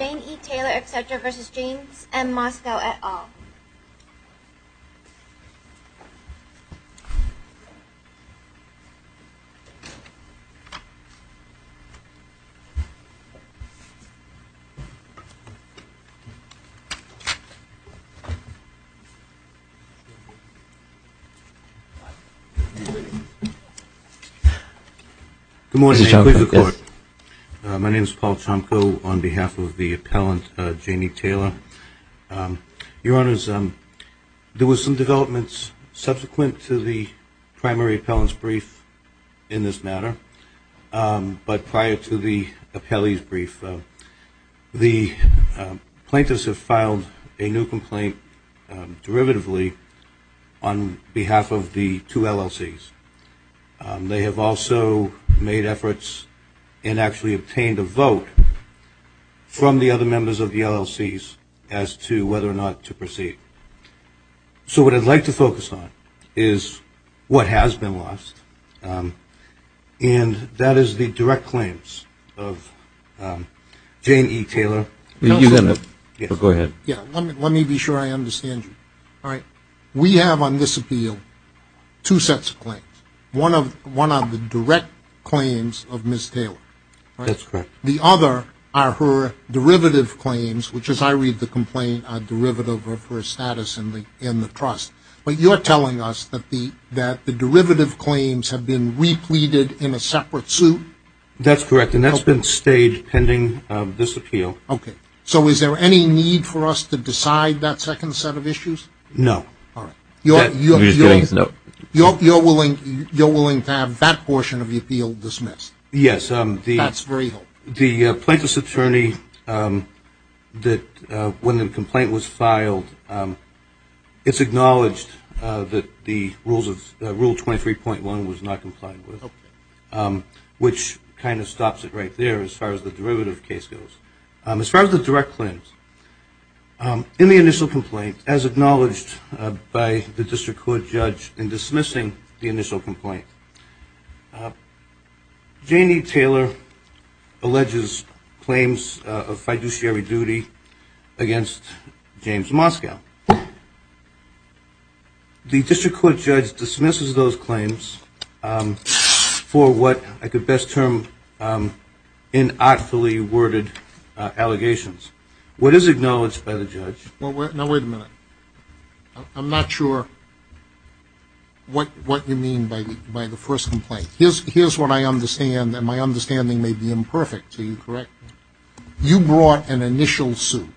Jane E. Taylor, etc. v. James M. Moskow, et al. Good morning. My name is Paul Chomko on behalf of the appellant, Jane E. Taylor. Your Honors, there were some developments subsequent to the primary appellant's brief in this matter, but prior to the appellee's brief, the plaintiffs have filed a new complaint derivatively on behalf of the two LLCs. They have also made efforts and actually obtained a vote from the other members of the LLCs as to whether or not to proceed. So what I'd like to focus on is what has been lost, and that is the direct claims of Jane E. Taylor. Go ahead. Let me be sure I understand you. We have on this appeal two sets of claims. One are the direct claims of Ms. Taylor. That's correct. The other are her derivative claims, which, as I read the complaint, are derivative of her status in the trust. But you're telling us that the derivative claims have been repleted in a separate suit? That's correct, and that's been staged pending this appeal. Okay. So is there any need for us to decide that second set of issues? No. All right. You're willing to have that portion of the appeal dismissed? Yes. That's very helpful. The plaintiff's attorney, when the complaint was filed, it's acknowledged that Rule 23.1 was not complied with, which kind of stops it right there as far as the derivative case goes. As far as the direct claims, in the initial complaint, as acknowledged by the district court judge in dismissing the initial complaint, Janie Taylor alleges claims of fiduciary duty against James Moskow. The district court judge dismisses those claims for what I could best term inartfully worded allegations. What is acknowledged by the judge? Now, wait a minute. I'm not sure what you mean by the first complaint. Here's what I understand, and my understanding may be imperfect. Are you correct? You brought an initial suit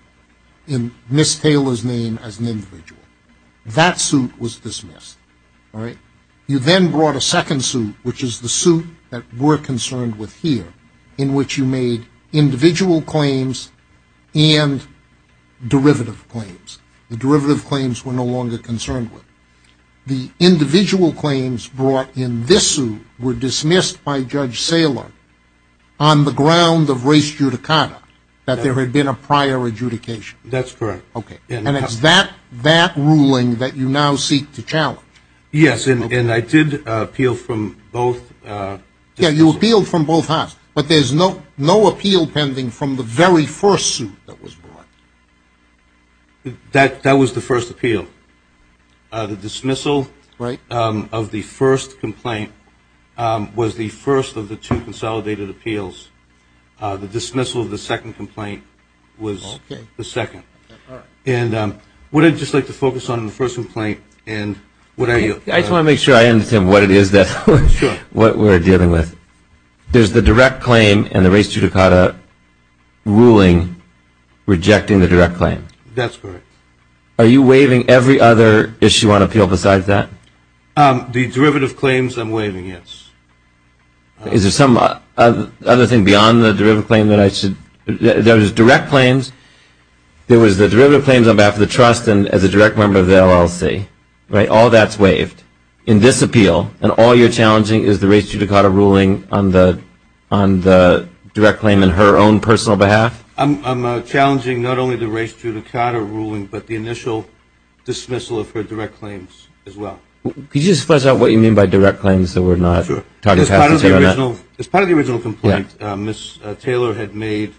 in Ms. Taylor's name as an individual. That suit was dismissed, all right? You then brought a second suit, which is the suit that we're concerned with here, in which you made individual claims and derivative claims. The derivative claims were no longer concerned with. The individual claims brought in this suit were dismissed by Judge Saylor on the ground of race judicata, that there had been a prior adjudication. That's correct. Okay. And it's that ruling that you now seek to challenge. Yes, and I did appeal from both. Yes, you appealed from both halves, but there's no appeal pending from the very first suit that was brought. That was the first appeal. The dismissal of the first complaint was the first of the two consolidated appeals. The dismissal of the second complaint was the second. All right. And would I just like to focus on the first complaint, and what are you? I just want to make sure I understand what it is that we're dealing with. There's the direct claim and the race judicata ruling rejecting the direct claim. That's correct. Are you waiving every other issue on appeal besides that? The derivative claims I'm waiving, yes. Is there some other thing beyond the derivative claim that I should? There was direct claims. There was the derivative claims on behalf of the trust and as a direct member of the LLC, right? In this appeal, and all you're challenging is the race judicata ruling on the direct claim in her own personal behalf? I'm challenging not only the race judicata ruling, but the initial dismissal of her direct claims as well. Could you just flesh out what you mean by direct claims that we're not talking about? Sure. Ms. Taylor had made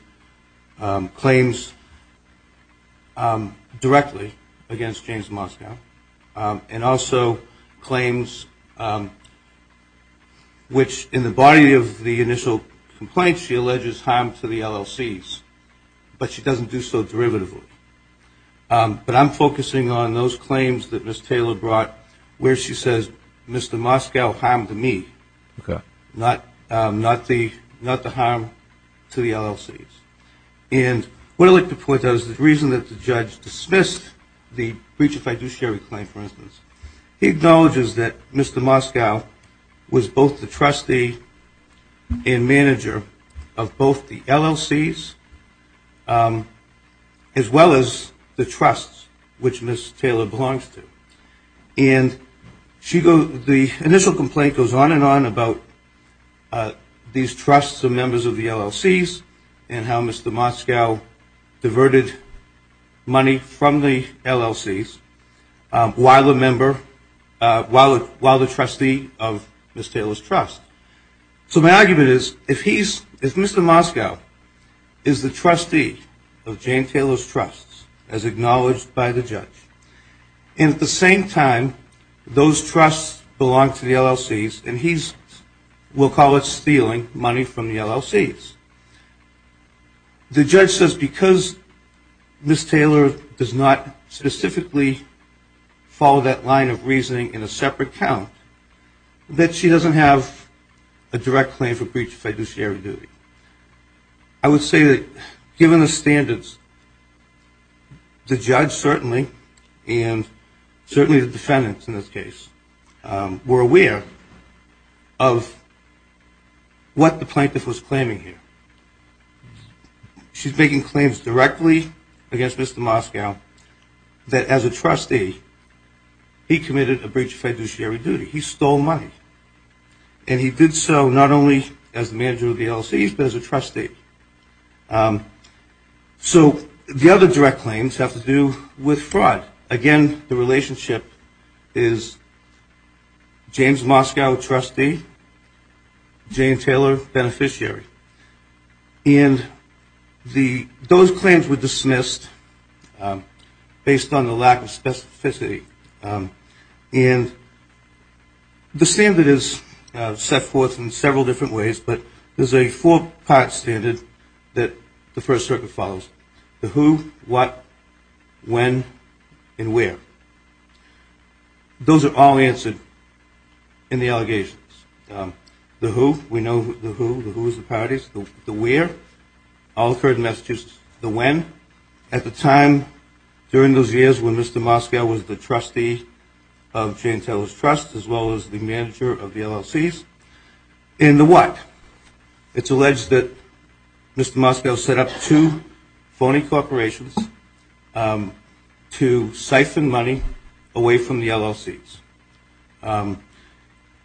claims directly against James Moskow, and also claims which in the body of the initial complaint, she alleges harm to the LLCs, but she doesn't do so derivatively. But I'm focusing on those claims that Ms. Taylor brought where she says, Mr. Moskow harmed me. Okay. Not the harm to the LLCs. And what I'd like to point out is the reason that the judge dismissed the breach of fiduciary claim, for instance, he acknowledges that Mr. Moskow was both the trustee and manager of both the LLCs as well as the trusts, which Ms. Taylor belongs to. And the initial complaint goes on and on about these trusts and members of the LLCs and how Mr. Moskow diverted money from the LLCs while the trustee of Ms. Taylor's trust. So my argument is, if Mr. Moskow is the trustee of Jane Taylor's trusts, as acknowledged by the judge, and at the same time, those trusts belong to the LLCs, and he's, we'll call it stealing money from the LLCs, the judge says because Ms. Taylor does not specifically follow that line of reasoning in a separate account, that she doesn't have a direct claim for breach of fiduciary duty. I would say that given the standards, the judge certainly, and certainly the defendants in this case, were aware of what the plaintiff was claiming here. She's making claims directly against Mr. Moskow that as a trustee, he committed a breach of fiduciary duty. He stole money. And he did so not only as the manager of the LLCs, but as a trustee. So the other direct claims have to do with fraud. Again, the relationship is James Moskow, trustee, Jane Taylor, beneficiary. And those claims were dismissed based on the lack of specificity. And the standard is set forth in several different ways, but there's a four-part standard that the First Circuit follows. The who, what, when, and where. Those are all answered in the allegations. The who, we know the who, the who's the parties, the where, all occurred in Massachusetts. The when, at the time during those years when Mr. Moskow was the trustee of Jane Taylor's trust, as well as the manager of the LLCs. And the what, it's alleged that Mr. Moskow set up two phony corporations to siphon money away from the LLCs.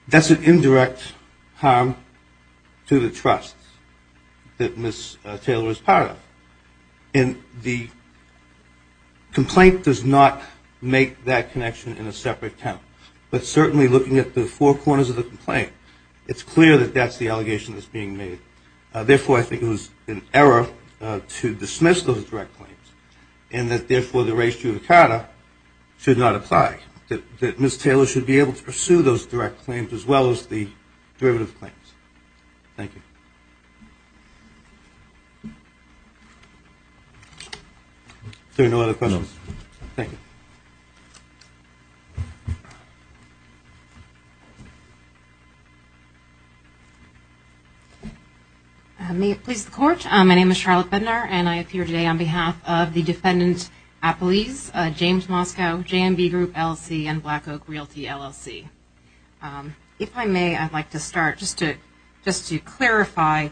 That's an indirect harm to the trust that Ms. Taylor is part of. And the complaint does not make that connection in a separate count. But certainly looking at the four corners of the complaint, it's clear that that's the allegation that's being made. Therefore, I think it was an error to dismiss those direct claims. And that, therefore, the res judicata should not apply. That Ms. Taylor should be able to pursue those direct claims as well as the derivative claims. Thank you. Are there no other questions? Thank you. May it please the Court. My name is Charlotte Bednar and I appear today on behalf of the Defendant Appellees, James Moskow, JMB Group, LLC, and Black Oak Realty, LLC. If I may, I'd like to start just to clarify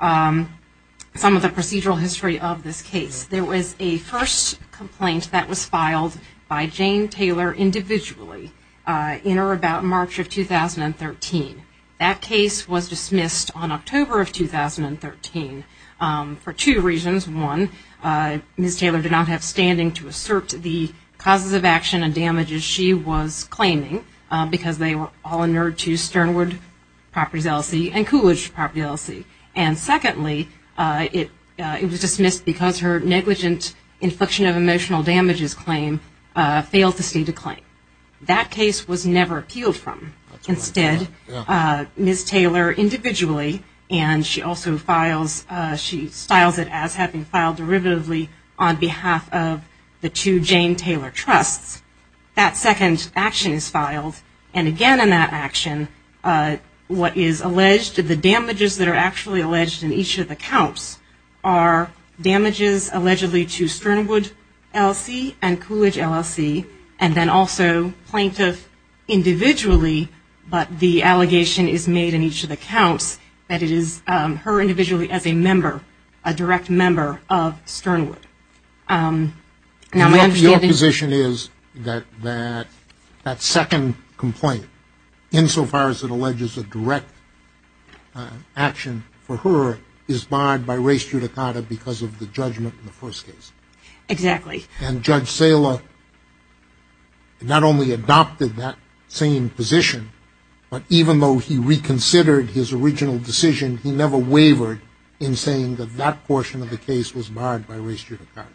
some of the procedural history of this case. There was a first complaint that was filed by Jane Taylor individually in or about March of 2013. That case was dismissed on October of 2013 for two reasons. One, Ms. Taylor did not have standing to assert the causes of action and damages she was claiming, because they were all inured to Sternwood Properties, LLC and Coolidge Properties, LLC. And secondly, it was dismissed because her negligent inflection of emotional damages claim failed to state a claim. That case was never appealed from. Instead, Ms. Taylor individually, and she also files, she styles it as having filed derivatively on behalf of the two Jane Taylor trusts. That second action is filed. And again in that action, what is alleged, the damages that are actually alleged in each of the counts, are damages allegedly to Sternwood, LLC, and Coolidge, LLC, and then also plaintiff individually, but the allegation is made in each of the counts that it is her individually as a member, a direct member of Sternwood. Your position is that that second complaint, insofar as it alleges a direct action for her, is barred by res judicata because of the judgment in the first case. Exactly. And Judge Saylor not only adopted that same position, but even though he reconsidered his original decision, he never wavered in saying that that portion of the case was barred by res judicata.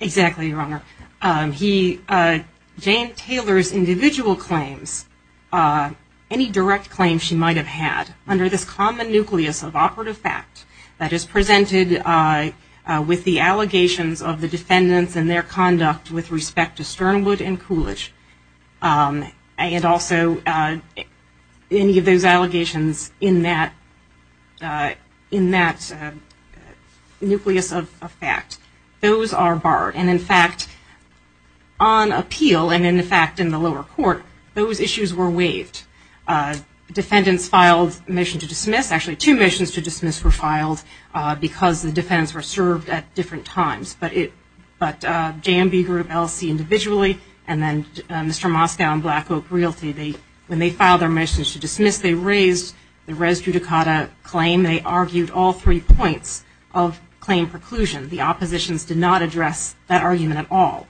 Exactly, Your Honor. Jane Taylor's individual claims, any direct claims she might have had under this common nucleus of operative fact that is presented with the allegations of the defendants and their conduct with respect to Sternwood and Coolidge, and also any of those allegations in that nucleus of fact, those are barred. And in fact, on appeal and in fact in the lower court, those issues were waived. Defendants filed a motion to dismiss. Actually, two motions to dismiss were filed because the defendants were served at different times, but J&B Group, LC individually, and then Mr. Moscow and Black Oak Realty, when they filed their motions to dismiss, they raised the res judicata claim. They argued all three points of claim preclusion. The oppositions did not address that argument at all.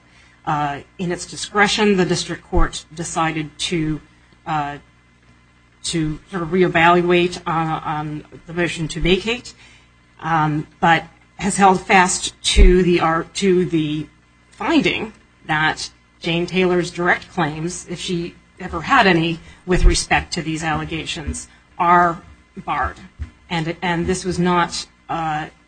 In its discretion, the district court decided to re-evaluate the motion to vacate, but has held fast to the finding that Jane Taylor's direct claims, if she ever had any with respect to these allegations, are barred. And this was not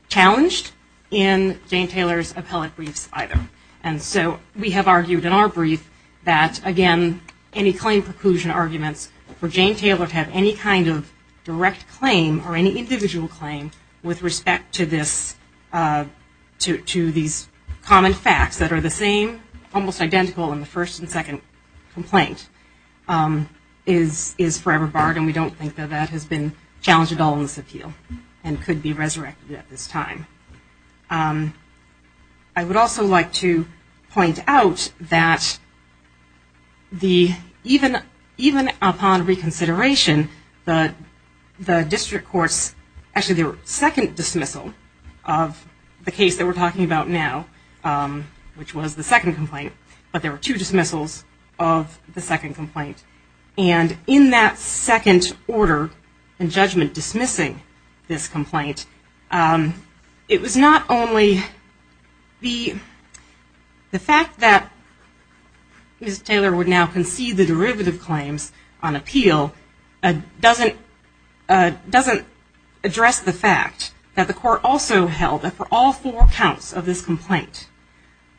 challenged in Jane Taylor's appellate briefs either. And so we have argued in our brief that, again, any claim preclusion arguments for Jane Taylor to have any kind of direct claim or any individual claim with respect to these common facts that are the same, almost identical in the first and second complaint, is forever barred. And we don't think that that has been challenged at all in this appeal and could be resurrected at this time. I would also like to point out that even upon reconsideration, the district courts, actually their second dismissal of the case that we're talking about now, which was the second complaint, but there were two dismissals of the second complaint. And in that second order and judgment dismissing this complaint, it was not only the fact that Ms. Taylor would now concede the derivative claims on appeal doesn't address the fact that the court also held that for all four counts of this complaint,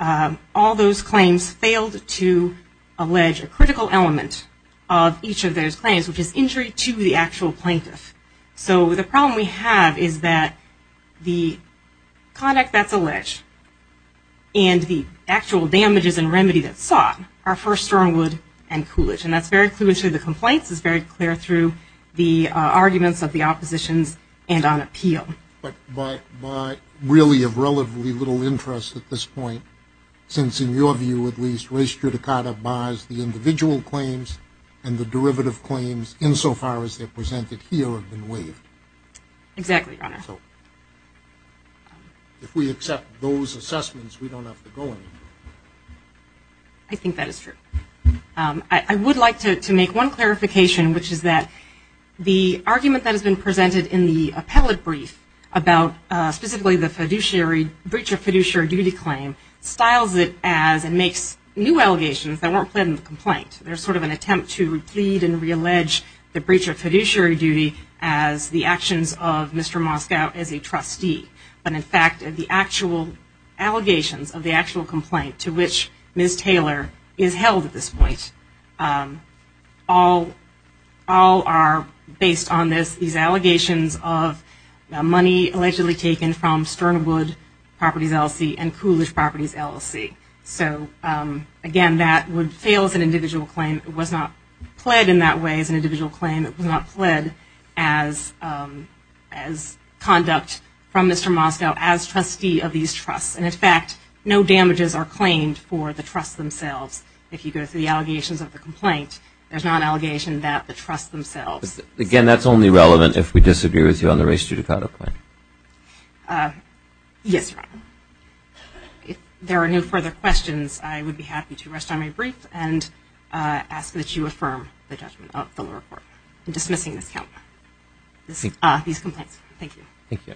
all those claims failed to allege a critical element of each of those claims, which is injury to the actual plaintiff. So the problem we have is that the conduct that's alleged and the actual damages and remedy that's sought are for Stornwood and Coolidge. And that's very clear through the complaints. It's very clear through the arguments of the oppositions and on appeal. But by really of relatively little interest at this point, since in your view at least, race judicata buys the individual claims and the derivative claims insofar as they're presented here have been waived. Exactly, Your Honor. If we accept those assessments, we don't have to go any further. I think that is true. I would like to make one clarification, which is that the argument that has been presented in the appellate brief about specifically the breach of fiduciary duty claim styles it as it makes new allegations that weren't pledged in the complaint. There's sort of an attempt to replead and reallege the breach of fiduciary duty as the actions of Mr. Moskow as a trustee. But in fact, the actual allegations of the actual complaint to which Ms. Taylor is held at this point, all are based on these allegations of money allegedly taken from Sternwood Properties, LLC and Coolidge Properties, LLC. So again, that would fail as an individual claim. It was not pled in that way as an individual claim. It was not pled as conduct from Mr. Moskow as trustee of these trusts. And in fact, no damages are claimed for the trusts themselves if you go through the allegations of the complaint. There's not an allegation that the trusts themselves. Again, that's only relevant if we disagree with you on the race judicata claim. Yes, Your Honor. If there are no further questions, I would be happy to rest on my brief and ask that you affirm the judgment of the lower court in dismissing these complaints. Thank you. Thank you.